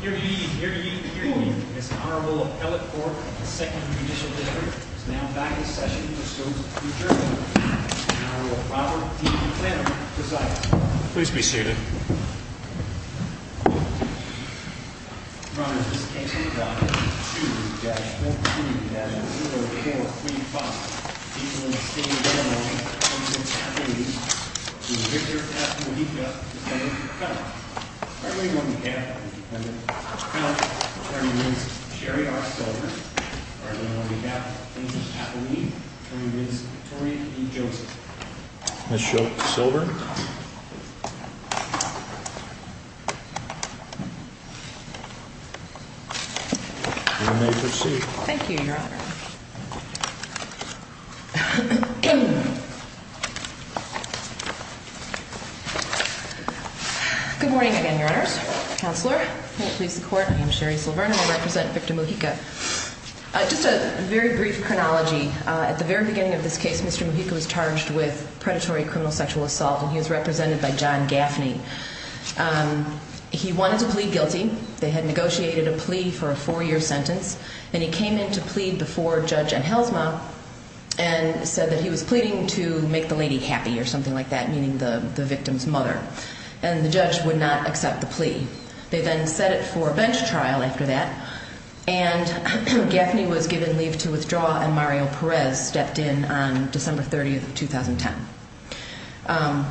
Here to you, here to you, here to you, Ms. Honorable Pellet Fork of the 2nd Judicial District is now back in session to discuss the future. Honorable Robert D. McClendon presides. Please be seated. Your Honor, in this case we've got 2-14-0435. He's in the state of Illinois. He's in California. Mr. Victor F. Mujica is coming to the court. I remind you on behalf of Mr. McClendon, Attorney Ms. Sherry R. Silver. I remind you on behalf of Ms. Kathleen, Attorney Ms. Victoria E. Joseph. Ms. Schultz-Silver. You may proceed. Thank you, Your Honor. Good morning again, Your Honors. Counselor, please support me. I'm Sherry Silver and I represent Victor Mujica. Just a very brief chronology. At the very beginning of this case, Mr. Mujica was charged with predatory criminal sexual assault and he was represented by John Gaffney. He wanted to plead guilty. They had negotiated a plea for a 4-year sentence and he came in to plead before Judge Enhelsma and said that he was pleading to make the lady happy or something like that, meaning the victim's mother, and the judge would not accept the plea. They then set it for a bench trial after that and Gaffney was given leave to withdraw and Mario Perez stepped in on December 30, 2010.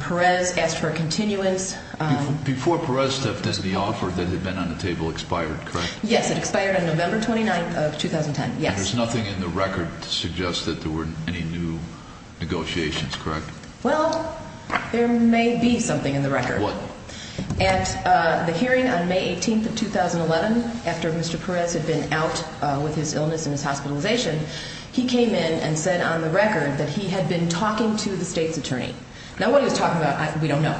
Perez asked for a continuance. Before Perez stepped in, the offer that had been on the table expired, correct? Yes, it expired on November 29, 2010. There's nothing in the record to suggest that there were any new negotiations, correct? Well, there may be something in the record. What? At the hearing on May 18, 2011, after Mr. Perez had been out with his illness and his hospitalization, he came in and said on the record that he had been talking to the state's attorney. Now, what he was talking about, we don't know.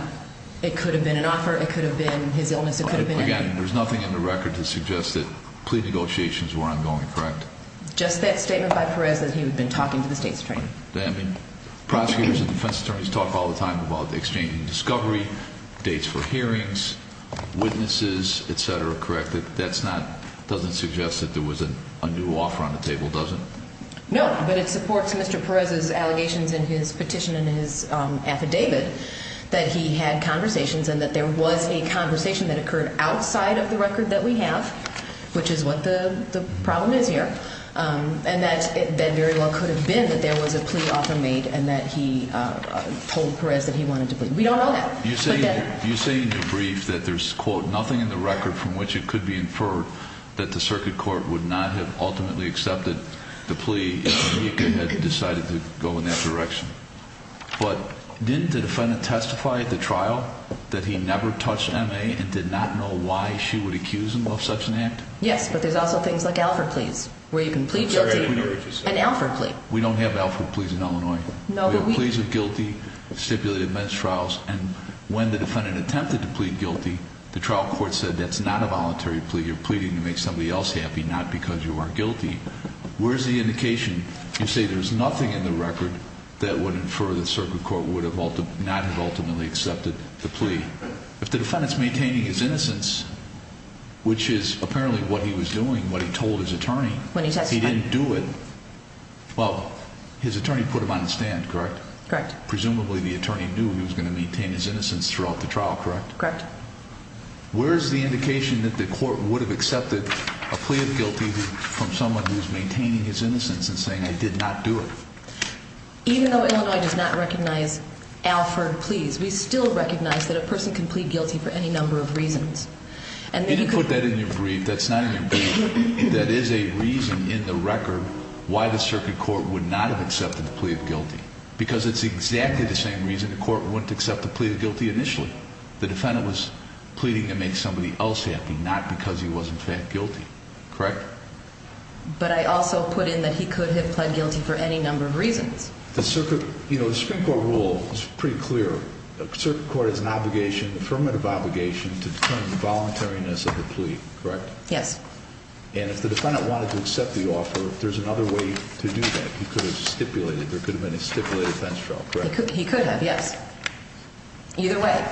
It could have been an offer, it could have been his illness. Again, there's nothing in the record to suggest that plea negotiations were ongoing, correct? Just that statement by Perez that he had been talking to the state's attorney. Prosecutors and defense attorneys talk all the time about exchanging discovery, dates for hearings, witnesses, etc., correct? That doesn't suggest that there was a new offer on the table, does it? No, but it supports Mr. Perez's allegations in his petition and his affidavit that he had conversations and that there was a conversation that occurred outside of the record that we have, which is what the problem is here, and that it very well could have been that there was a plea offer made and that he told Perez that he wanted to plead. We don't know that. You say in your brief that there's, quote, nothing in the record from which it could be inferred that the circuit court would not have ultimately accepted the plea if he had decided to go in that direction. But didn't the defendant testify at the trial that he never touched M.A. and did not know why she would accuse him of such an act? Yes, but there's also things like Alford pleas where you can plead guilty. I'm sorry, I didn't hear what you said. An Alford plea. We don't have Alford pleas in Illinois. No, but we do. We have pleas of guilty, stipulated men's trials, and when the defendant attempted to plead guilty, the trial court said that's not a voluntary plea. You're pleading to make somebody else happy, not because you are guilty. Where's the indication? You say there's nothing in the record that would infer that the circuit court would not have ultimately accepted the plea. If the defendant is maintaining his innocence, which is apparently what he was doing, what he told his attorney, he didn't do it. Well, his attorney put him on the stand, correct? Correct. Presumably the attorney knew he was going to maintain his innocence throughout the trial, correct? Correct. a plea of guilty from someone who is maintaining his innocence and saying I did not do it. Even though Illinois does not recognize Alford pleas, we still recognize that a person can plead guilty for any number of reasons. You didn't put that in your brief. That's not in your brief. That is a reason in the record why the circuit court would not have accepted the plea of guilty, because it's exactly the same reason the court wouldn't accept the plea of guilty initially. The defendant was pleading to make somebody else happy, not because he was in fact guilty, correct? Correct. But I also put in that he could have pled guilty for any number of reasons. The circuit court rule is pretty clear. The circuit court has an obligation, affirmative obligation, to determine the voluntariness of the plea, correct? Yes. And if the defendant wanted to accept the offer, there's another way to do that. He could have stipulated. There could have been a stipulated bench trial, correct? He could have, yes. Either way.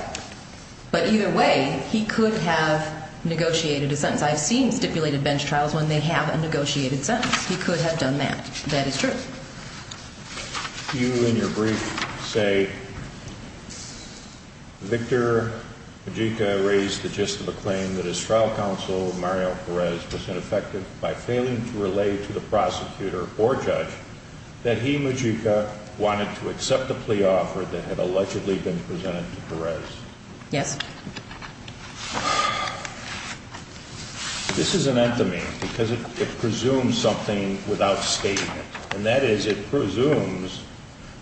But either way, he could have negotiated a sentence. I've seen stipulated bench trials when they have a negotiated sentence. He could have done that. That is true. You, in your brief, say Victor Majica raised the gist of a claim that his trial counsel, Mario Perez, was ineffective by failing to relay to the prosecutor or judge that he, Majica, wanted to accept the plea offer that had allegedly been presented to Perez. Yes. This is an anthomy because it presumes something without stating it, and that is it presumes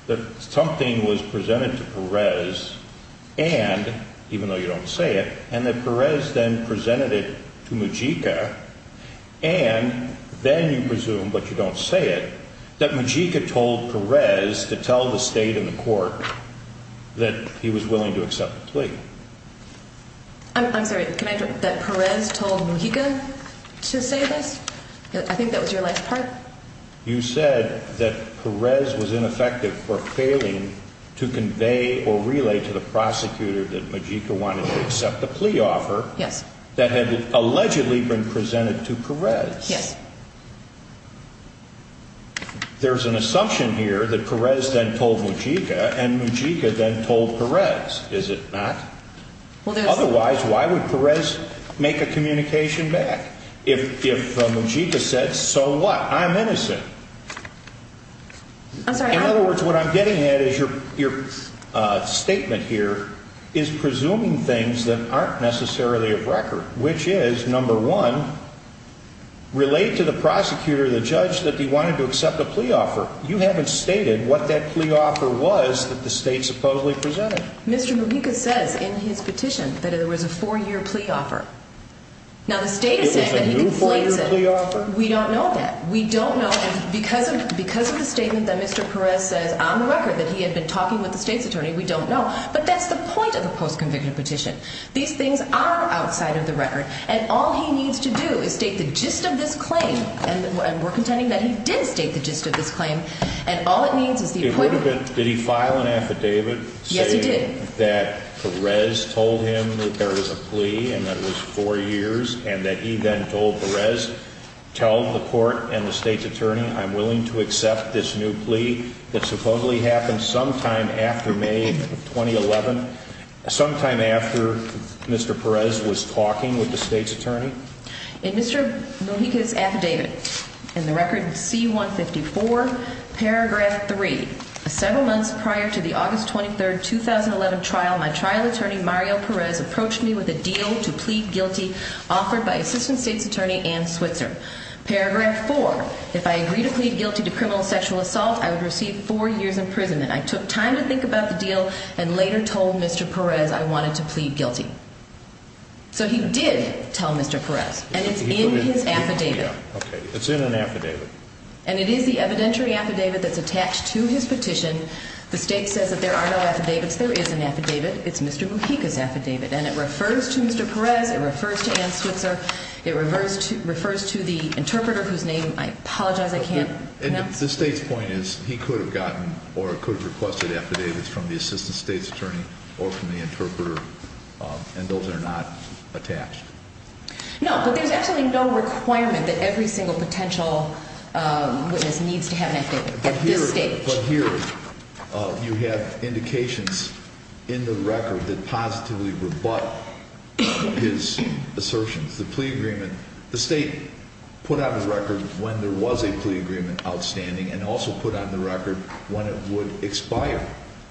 that something was presented to Perez and, even though you don't say it, and that Perez then presented it to Majica and then you presume, but you don't say it, that Majica told Perez to tell the state and the court that he was willing to accept the plea. I'm sorry. Can I interrupt? That Perez told Majica to say this? I think that was your last part. You said that Perez was ineffective for failing to convey or relay to the prosecutor that Majica wanted to accept the plea offer that had allegedly been presented to Perez. Yes. There's an assumption here that Perez then told Majica and Majica then told Perez, is it not? Otherwise, why would Perez make a communication back if Majica said, so what, I'm innocent? I'm sorry. In other words, what I'm getting at is your statement here is presuming things that aren't necessarily of record, which is, number one, relay to the prosecutor, the judge, that he wanted to accept the plea offer. You haven't stated what that plea offer was that the state supposedly presented. Mr. Majica says in his petition that it was a four-year plea offer. Now, the state is saying that he conflates it. It was a new four-year plea offer? We don't know that. We don't know. Because of the statement that Mr. Perez says on the record that he had been talking with the state's attorney, we don't know. But that's the point of the post-conviction petition. These things are outside of the record. And all he needs to do is state the gist of this claim. And we're contending that he did state the gist of this claim. And all it needs is the appointment. Did he file an affidavit saying that Perez told him that there was a plea and that it was four years and that he then told Perez, tell the court and the state's attorney, I'm willing to accept this new plea that supposedly happened sometime after May 2011, sometime after Mr. Perez was talking with the state's attorney? In Mr. Mojica's affidavit in the record C-154, paragraph 3, several months prior to the August 23, 2011 trial, my trial attorney Mario Perez approached me with a deal to plead guilty offered by Assistant State's Attorney Ann Switzer. Paragraph 4, if I agree to plead guilty to criminal sexual assault, I would receive four years in prison. I took time to think about the deal and later told Mr. Perez I wanted to plead guilty. So he did tell Mr. Perez. And it's in his affidavit. It's in an affidavit. And it is the evidentiary affidavit that's attached to his petition. The state says that there are no affidavits. There is an affidavit. It's Mr. Mojica's affidavit. And it refers to Mr. Perez. It refers to Ann Switzer. It refers to the interpreter whose name I apologize I can't pronounce. And the state's point is he could have gotten or could have requested affidavits from the Assistant State's Attorney or from the interpreter, and those are not attached. No, but there's absolutely no requirement that every single potential witness needs to have an affidavit at this stage. But here you have indications in the record that positively rebut his assertions. It's the plea agreement. The state put out a record when there was a plea agreement outstanding and also put out the record when it would expire.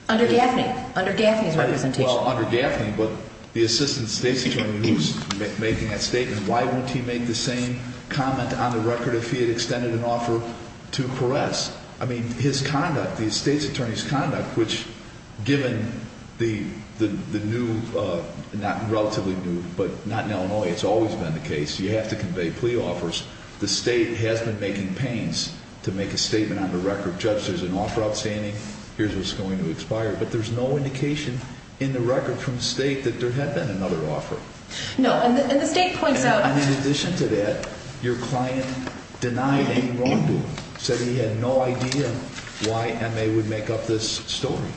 Under Gaffney. Under Gaffney's representation. Well, under Gaffney. But the Assistant State's Attorney was making that statement. Why wouldn't he make the same comment on the record if he had extended an offer to Perez? I mean, his conduct, the State's Attorney's conduct, which given the new, not relatively new, but not in Illinois, it's always been the case, you have to convey plea offers. The state has been making pains to make a statement on the record, Judge, there's an offer outstanding. Here's what's going to expire. But there's no indication in the record from the state that there had been another offer. No, and the state points out. And in addition to that, your client denied any wrongdoing, said he had no idea why MA would make up this story.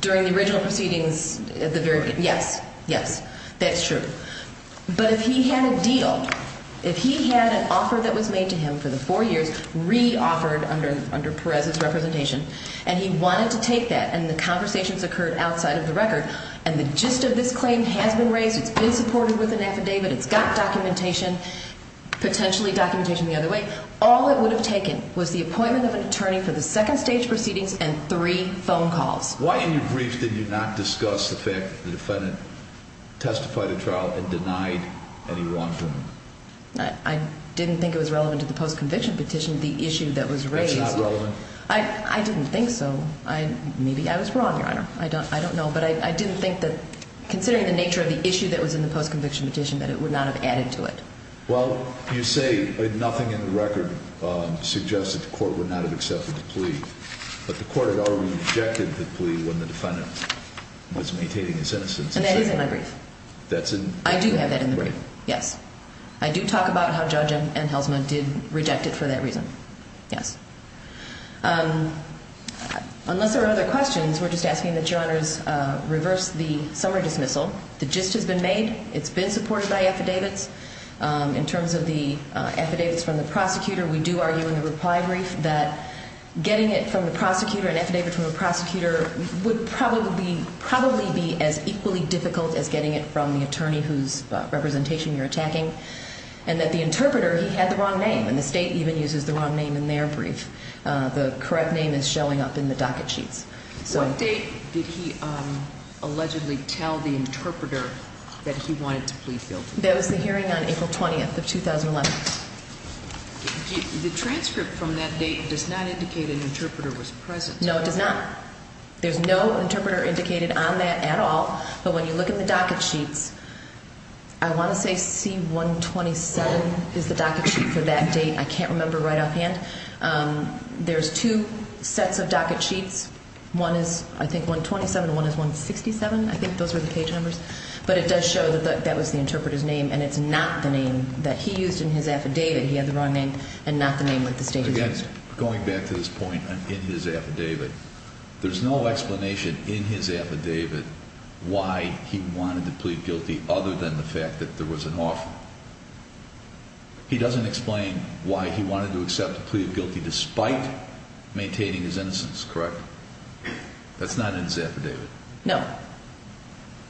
During the original proceedings, yes, yes, that's true. But if he had a deal, if he had an offer that was made to him for the four years, re-offered under Perez's representation, and he wanted to take that, and the conversations occurred outside of the record, and the gist of this claim has been raised, it's been supported with an affidavit, it's got documentation, potentially documentation the other way, all it would have taken was the appointment of an attorney for the second stage proceedings and three phone calls. Why in your briefs did you not discuss the fact that the defendant testified at trial and denied any wrongdoing? I didn't think it was relevant to the post-conviction petition, the issue that was raised. That's not relevant? I didn't think so. Maybe I was wrong, Your Honor. I don't know. But I didn't think that considering the nature of the issue that was in the post-conviction petition that it would not have added to it. Well, you say nothing in the record suggests that the court would not have accepted the plea, but the court had already rejected the plea when the defendant was maintaining his innocence. And that is in my brief. I do have that in the brief, yes. I do talk about how Judge Anhelsma did reject it for that reason, yes. Unless there are other questions, we're just asking that Your Honor reverse the summary dismissal. The gist has been made. It's been supported by affidavits. In terms of the affidavits from the prosecutor, we do argue in the reply brief that getting it from the prosecutor and affidavit from the prosecutor would probably be as equally difficult as getting it from the attorney whose representation you're attacking, and that the interpreter, he had the wrong name, and the state even uses the wrong name in their brief. The correct name is showing up in the docket sheets. What date did he allegedly tell the interpreter that he wanted to plea guilty? That was the hearing on April 20th of 2011. The transcript from that date does not indicate an interpreter was present. No, it does not. There's no interpreter indicated on that at all. But when you look in the docket sheets, I want to say C-127 is the docket sheet for that date. I can't remember right offhand. There's two sets of docket sheets. One is, I think, 127 and one is 167. I think those were the page numbers. But it does show that that was the interpreter's name, and it's not the name that he used in his affidavit. He had the wrong name and not the name that the state used. Again, going back to this point in his affidavit, there's no explanation in his affidavit why he wanted to plead guilty other than the fact that there was an offer. He doesn't explain why he wanted to accept the plea of guilty despite maintaining his innocence, correct? That's not in his affidavit. No.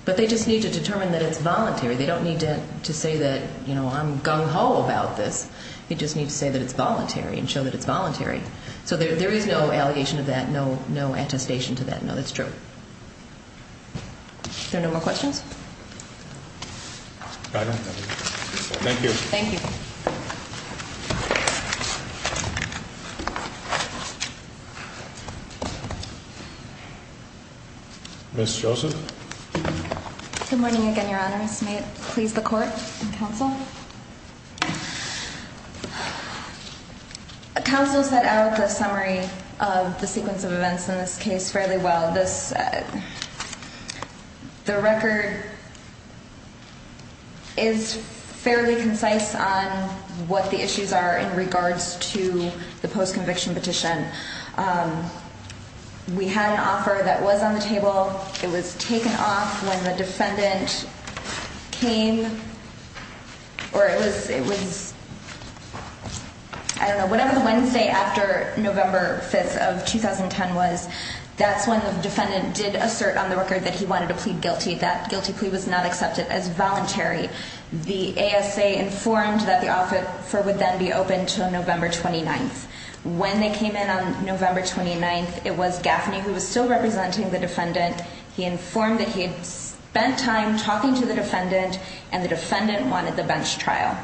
But they just need to determine that it's voluntary. They don't need to say that, you know, I'm gung-ho about this. They just need to say that it's voluntary and show that it's voluntary. So there is no allegation of that, no attestation to that. No, that's true. Are there no more questions? I don't have any. Thank you. Thank you. Ms. Joseph? Good morning again, Your Honor. May it please the Court and counsel? Counsel set out the summary of the sequence of events in this case fairly well. The record is fairly concise on what the issues are in regards to the post-conviction petition. We had an offer that was on the table. It was taken off when the defendant came, or it was, I don't know, whatever the Wednesday after November 5th of 2010 was, that's when the defendant did assert on the record that he wanted to plead guilty. That guilty plea was not accepted as voluntary. The ASA informed that the offer would then be open until November 29th. When they came in on November 29th, it was Gaffney who was still representing the defendant. He informed that he had spent time talking to the defendant, and the defendant wanted the bench trial.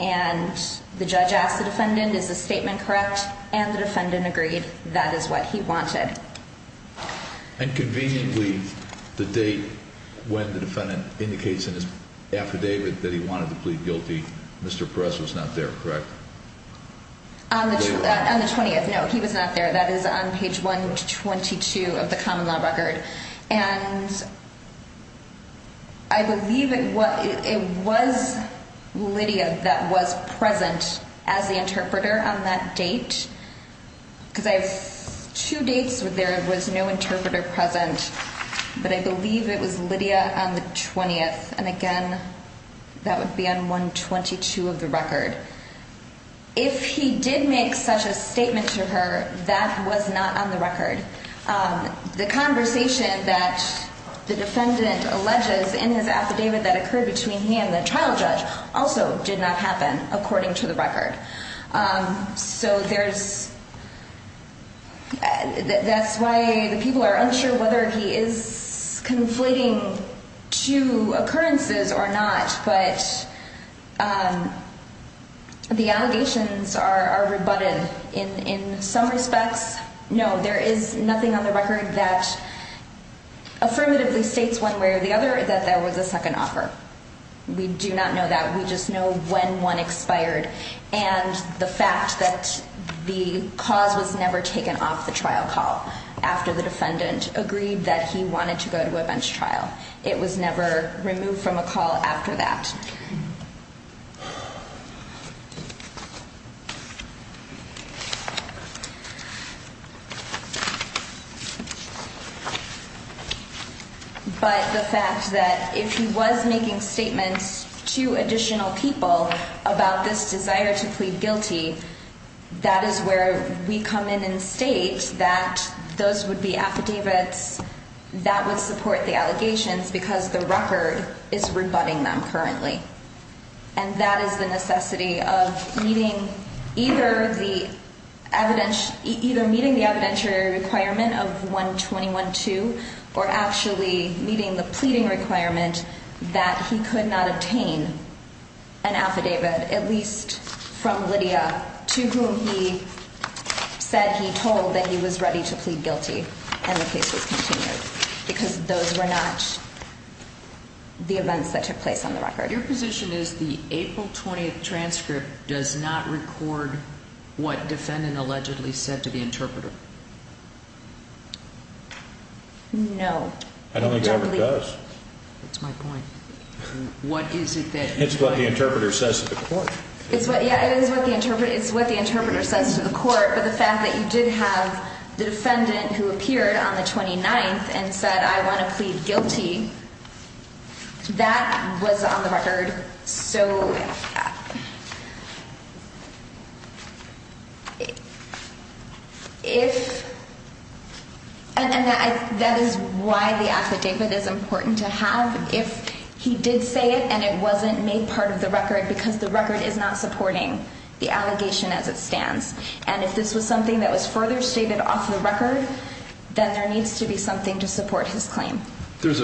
And the judge asked the defendant, is the statement correct? And the defendant agreed. That is what he wanted. And conveniently, the date when the defendant indicates in his affidavit that he wanted to plead guilty, Mr. Perez was not there, correct? On the 20th, no. He was not there. That is on page 122 of the common law record. And I believe it was Lydia that was present as the interpreter on that date. Because I have two dates where there was no interpreter present. But I believe it was Lydia on the 20th. And, again, that would be on 122 of the record. If he did make such a statement to her, that was not on the record. The conversation that the defendant alleges in his affidavit that occurred between him and the trial judge also did not happen, according to the record. So there's ‑‑ that's why the people are unsure whether he is conflating two occurrences or not. But the allegations are rebutted in some respects. No, there is nothing on the record that affirmatively states one way or the other that there was a second offer. We do not know that. We just know when one expired and the fact that the cause was never taken off the trial call after the defendant agreed that he wanted to go to a bench trial. It was never removed from a call after that. Okay. But the fact that if he was making statements to additional people about this desire to plead guilty, that is where we come in and state that those would be affidavits that would support the allegations because the record is rebutting them currently. And that is the necessity of meeting either the evidentiary requirement of 121.2 or actually meeting the pleading requirement that he could not obtain an affidavit, at least from Lydia, to whom he said he told that he was ready to plead guilty and the case was continued because those were not the events that took place on the record. Your position is the April 20th transcript does not record what the defendant allegedly said to the interpreter? No. I don't think it ever does. That's my point. It's what the interpreter says to the court. Yeah, it is what the interpreter says to the court. But the fact that you did have the defendant who appeared on the 29th and said, I want to plead guilty, that was on the record. So if and that is why the affidavit is important to have. If he did say it and it wasn't made part of the record because the record is not supporting the allegation as it stands and if this was something that was further stated off the record, then there needs to be something to support his claim. This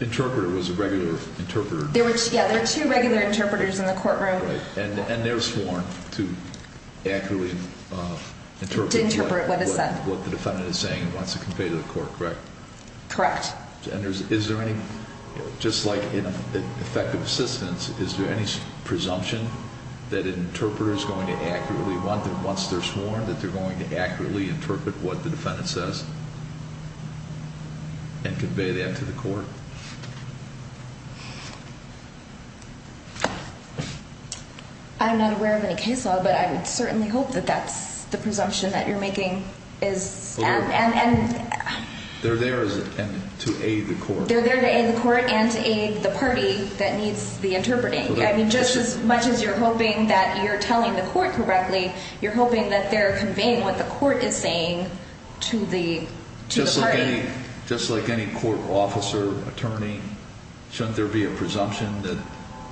interpreter was a regular interpreter? Yeah, there are two regular interpreters in the courtroom. And they're sworn to accurately interpret what the defendant is saying and wants to convey to the court, correct? Correct. And is there any, just like in effective assistance, is there any presumption that an interpreter is going to accurately, once they're sworn, that they're going to accurately interpret what the defendant says and convey that to the court? I'm not aware of any case law, but I would certainly hope that that's the presumption that you're making. They're there to aid the court. They're there to aid the court and to aid the party that needs the interpreting. I mean, just as much as you're hoping that you're telling the court correctly, you're hoping that they're conveying what the court is saying to the party. Just like any court officer, attorney, shouldn't there be a presumption that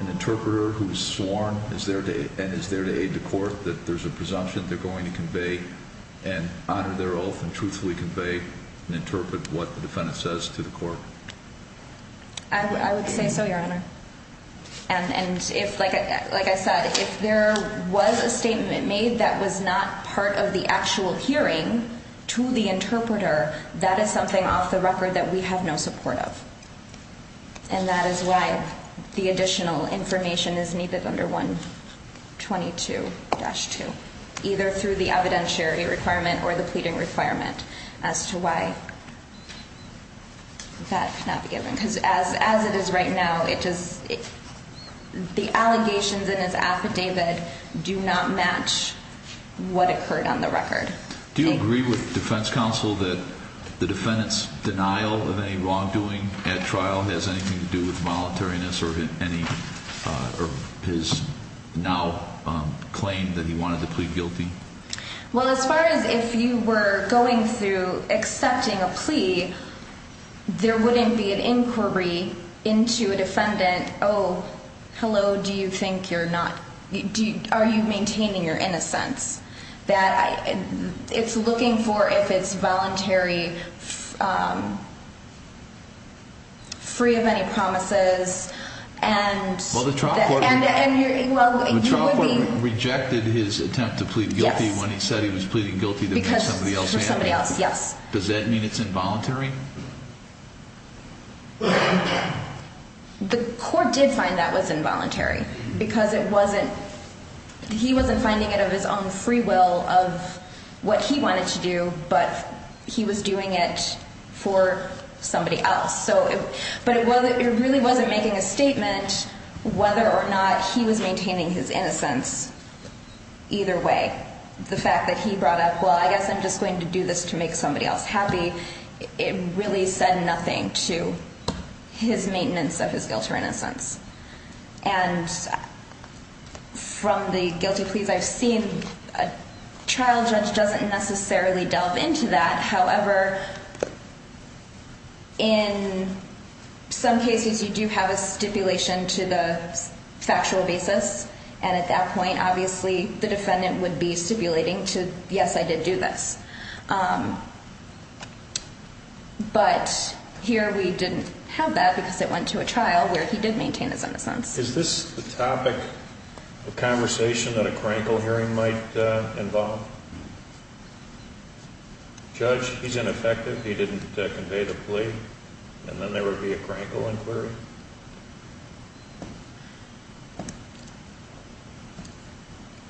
an interpreter who's sworn is there to aid the court, that there's a presumption they're going to convey and honor their oath and truthfully convey and interpret what the defendant says to the court? I would say so, Your Honor. And if, like I said, if there was a statement made that was not part of the actual hearing to the interpreter, that is something off the record that we have no support of. And that is why the additional information is needed under 122-2, either through the evidentiary requirement or the pleading requirement as to why that cannot be given. Because as it is right now, the allegations in this affidavit do not match what occurred on the record. Do you agree with defense counsel that the defendant's denial of any wrongdoing at trial has anything to do with voluntariness or his now claim that he wanted to plead guilty? Well, as far as if you were going through accepting a plea, there wouldn't be an inquiry into a defendant, oh, hello, do you think you're not, are you maintaining your innocence? That it's looking for if it's voluntary, free of any promises, and you would be. Well, the trial court rejected his attempt to plead guilty when he said he was pleading guilty to somebody else. Yes. Does that mean it's involuntary? The court did find that was involuntary because it wasn't, he wasn't finding it of his own free will of what he wanted to do, but he was doing it for somebody else. But it really wasn't making a statement whether or not he was maintaining his innocence either way. The fact that he brought up, well, I guess I'm just going to do this to make somebody else happy, it really said nothing to his maintenance of his guilt or innocence. And from the guilty pleas I've seen, a trial judge doesn't necessarily delve into that. However, in some cases you do have a stipulation to the factual basis, and at that point obviously the defendant would be stipulating to, yes, I did do this. But here we didn't have that because it went to a trial where he did maintain his innocence. Is this the topic of conversation that a crankle hearing might involve? Judge, he's ineffective, he didn't convey the plea, and then there would be a crankle inquiry?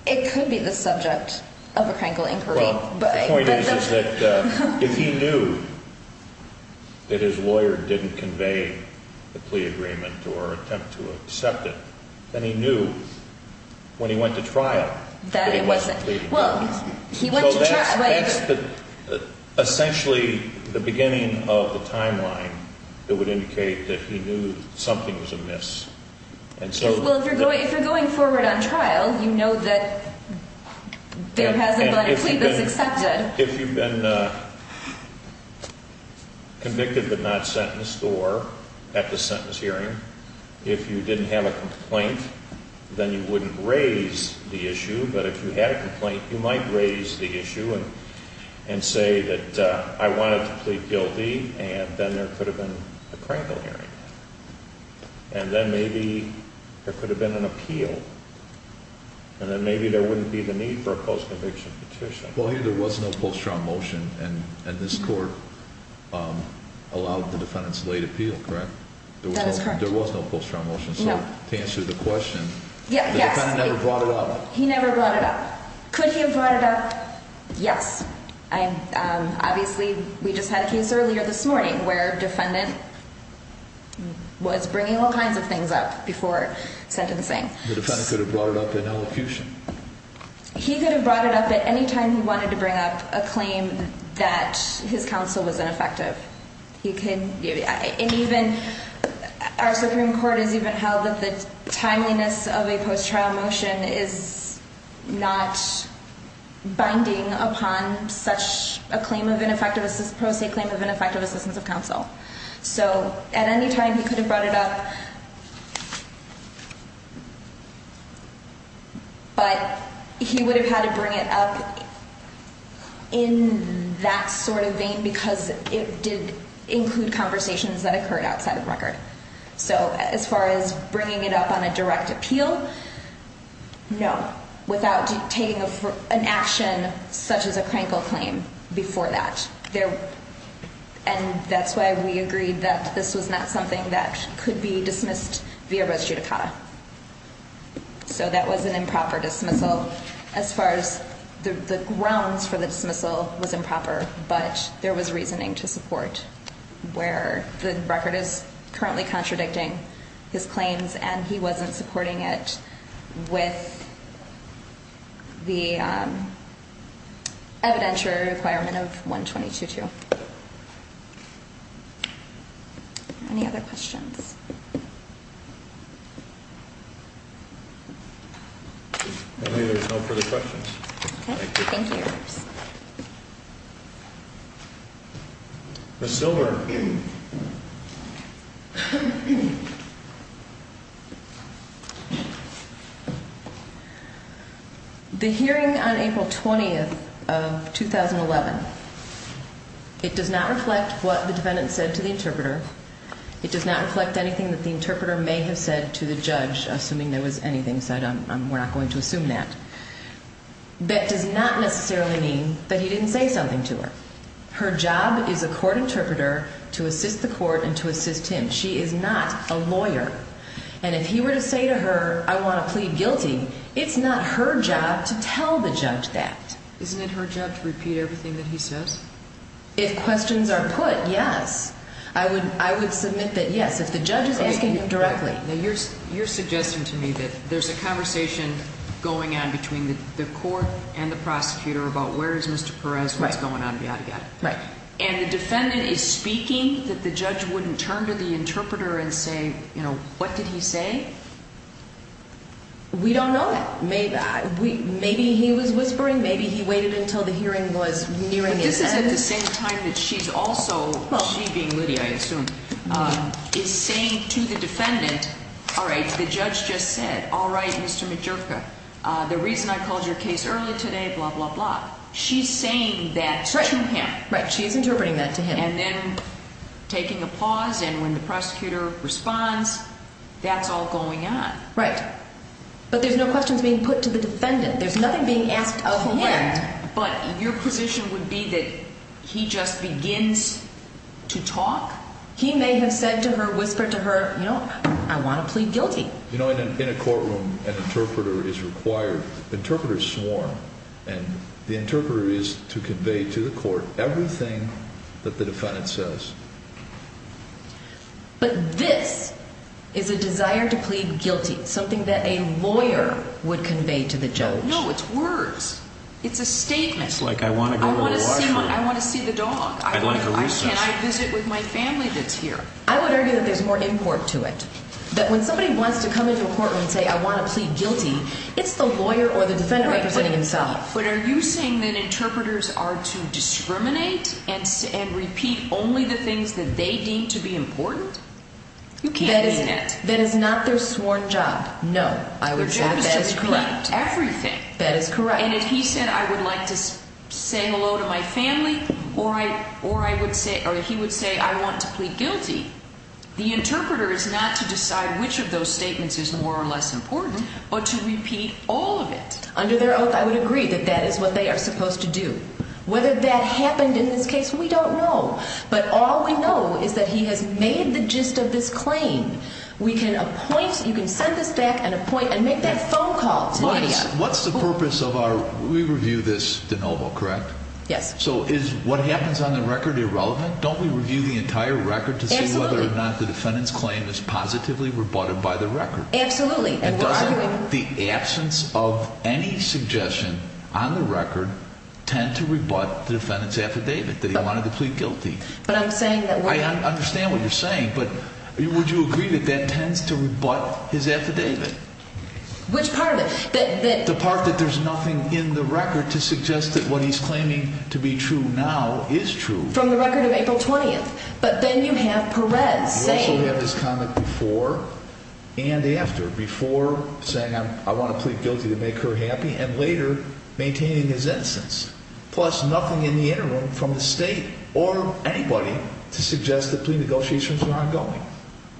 It could be the subject of a crankle inquiry. Well, the point is that if he knew that his lawyer didn't convey the plea agreement or attempt to accept it, then he knew when he went to trial that he wasn't pleading guilty. So that's essentially the beginning of the timeline that would indicate that he knew something was amiss. Well, if you're going forward on trial, you know that there hasn't been a plea that's accepted. If you've been convicted but not sentenced or at the sentence hearing, if you didn't have a complaint, then you wouldn't raise the issue. But if you had a complaint, you might raise the issue and say that I wanted to plead guilty, and then there could have been a crankle hearing. And then maybe there could have been an appeal. And then maybe there wouldn't be the need for a post-conviction petition. Well, there was no post-trial motion, and this Court allowed the defendant's late appeal, correct? That is correct. There was no post-trial motion. So to answer the question, the defendant never brought it up. He never brought it up. Could he have brought it up? Yes. Obviously, we just had a case earlier this morning where a defendant was bringing all kinds of things up before sentencing. The defendant could have brought it up in elocution. He could have brought it up at any time he wanted to bring up a claim that his counsel was ineffective. And even our Supreme Court has even held that the timeliness of a post-trial motion is not binding upon such a claim of ineffective assistance of counsel. So at any time, he could have brought it up. But he would have had to bring it up in that sort of vein because it did include conversations that occurred outside of the record. So as far as bringing it up on a direct appeal, no, without taking an action such as a crankle claim before that. And that's why we agreed that this was not something that could be dismissed via res judicata. So that was an improper dismissal as far as the grounds for the dismissal was improper. But there was reasoning to support where the record is currently contradicting his claims and he wasn't supporting it with the evidentiary requirement of 122-2. Any other questions? I believe there's no further questions. Okay. Thank you. Ms. Silver. The hearing on April 20th of 2011, it does not reflect what the defendant said to the interpreter. It does not reflect anything that the interpreter may have said to the judge, assuming there was anything said. We're not going to assume that. That does not necessarily mean that he didn't say something to her. Her job is a court interpreter to assist the court and to assist him. She is not a lawyer. And if he were to say to her, I want to plead guilty, it's not her job to tell the judge that. Isn't it her job to repeat everything that he says? If questions are put, yes. I would submit that, yes, if the judge is asking directly. You're suggesting to me that there's a conversation going on between the court and the prosecutor about where is Mr. Perez, what's going on, yada, yada. And the defendant is speaking that the judge wouldn't turn to the interpreter and say, you know, what did he say? We don't know that. Maybe he was whispering, maybe he waited until the hearing was nearing its end. At the same time that she's also, she being Lydia, I assume, is saying to the defendant, all right, the judge just said, all right, Mr. Majerka, the reason I called your case early today, blah, blah, blah. She's saying that to him. Right. She's interpreting that to him. And then taking a pause and when the prosecutor responds, that's all going on. Right. But there's no questions being put to the defendant. There's nothing being asked of him. But your position would be that he just begins to talk. He may have said to her, whispered to her, you know, I want to plead guilty. You know, in a courtroom, an interpreter is required. Interpreters swarm. And the interpreter is to convey to the court everything that the defendant says. But this is a desire to plead guilty, something that a lawyer would convey to the judge. No, it's words. It's a statement. It's like I want to go to the washroom. I want to see the dog. I'd like a recess. Can I visit with my family that's here? I would argue that there's more import to it. That when somebody wants to come into a courtroom and say I want to plead guilty, it's the lawyer or the defendant representing himself. But are you saying that interpreters are to discriminate and repeat only the things that they deem to be important? You can't mean it. That is not their sworn job. No. I would say that that is correct. Everything. That is correct. And if he said I would like to say hello to my family or he would say I want to plead guilty, the interpreter is not to decide which of those statements is more or less important but to repeat all of it. Under their oath, I would agree that that is what they are supposed to do. Whether that happened in this case, we don't know. But all we know is that he has made the gist of this claim. We can appoint, you can send this back and appoint and make that phone call to me. What's the purpose of our, we review this de novo, correct? Yes. So is what happens on the record irrelevant? Don't we review the entire record to see whether or not the defendant's claim is positively rebutted by the record? Absolutely. And doesn't the absence of any suggestion on the record tend to rebut the defendant's affidavit that he wanted to plead guilty? But I'm saying that we're not. I understand what you're saying but would you agree that that tends to rebut his affidavit? Which part of it? The part that there's nothing in the record to suggest that what he's claiming to be true now is true. From the record of April 20th. But then you have Perez saying. You also have this comment before and after. Before saying I want to plead guilty to make her happy and later maintaining his innocence. Plus nothing in the interim from the state or anybody to suggest that plea negotiations are ongoing.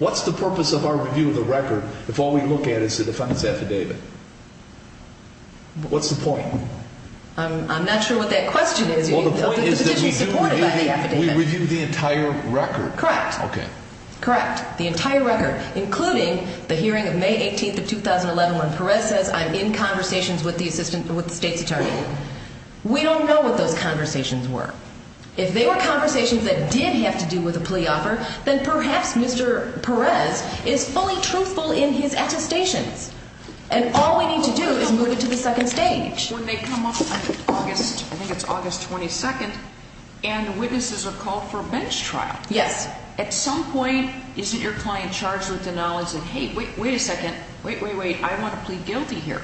What's the purpose of our review of the record if all we look at is the defendant's affidavit? What's the point? I'm not sure what that question is. Well the point is that we do review, we review the entire record. Correct. Okay. Correct. The entire record including the hearing of May 18th of 2011 when Perez says I'm in conversations with the state's attorney. We don't know what those conversations were. If they were conversations that did have to do with a plea offer then perhaps Mr. Perez is fully truthful in his attestations. And all we need to do is move it to the second stage. When they come up on August, I think it's August 22nd and witnesses are called for a bench trial. Yes. At some point isn't your client charged with the knowledge that hey, wait a second, wait, wait, wait, I want to plead guilty here.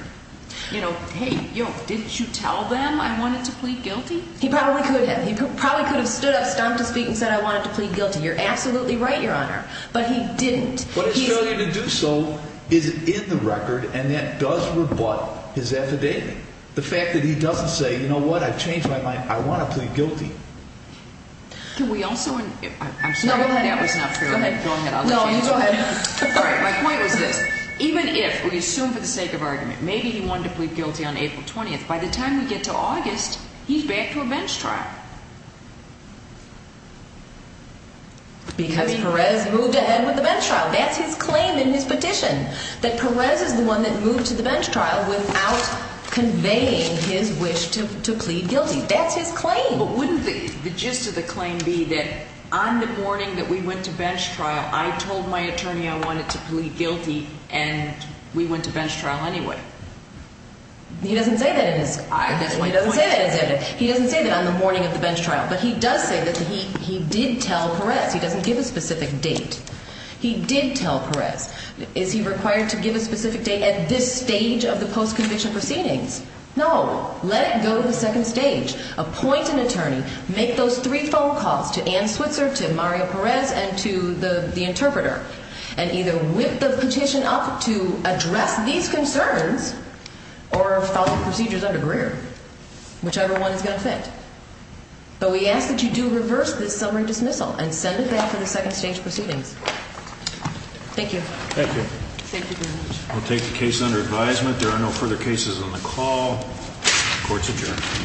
You know, hey, didn't you tell them I wanted to plead guilty? He probably could have. He probably could have stood up, stumped his feet and said I wanted to plead guilty. You're absolutely right, Your Honor. But he didn't. What is failure to do so is in the record and that does rebut his affidavit. The fact that he doesn't say, you know what, I've changed my mind, I want to plead guilty. Can we also, I'm sorry that that was not true. Go ahead. Go ahead. No, you go ahead. All right. My point was this. Even if we assume for the sake of argument maybe he wanted to plead guilty on April 20th, by the time we get to August, he's back to a bench trial. Because Perez moved ahead with the bench trial. That's his claim in his petition, that Perez is the one that moved to the bench trial without conveying his wish to plead guilty. That's his claim. But wouldn't the gist of the claim be that on the morning that we went to bench trial I told my attorney I wanted to plead guilty and we went to bench trial anyway? He doesn't say that in his, he doesn't say that on the morning of the bench trial. But he does say that he did tell Perez. He doesn't give a specific date. He did tell Perez. Is he required to give a specific date at this stage of the post-conviction proceedings? No. Let it go to the second stage. Appoint an attorney. Make those three phone calls to Ann Switzer, to Mario Perez, and to the interpreter. And either whip the petition up to address these concerns or follow the procedures under Greer. Whichever one is going to fit. But we ask that you do reverse this summary dismissal and send it back for the second stage proceedings. Thank you. Thank you. We'll take the case under advisement. There are no further cases on the call. Court's adjourned.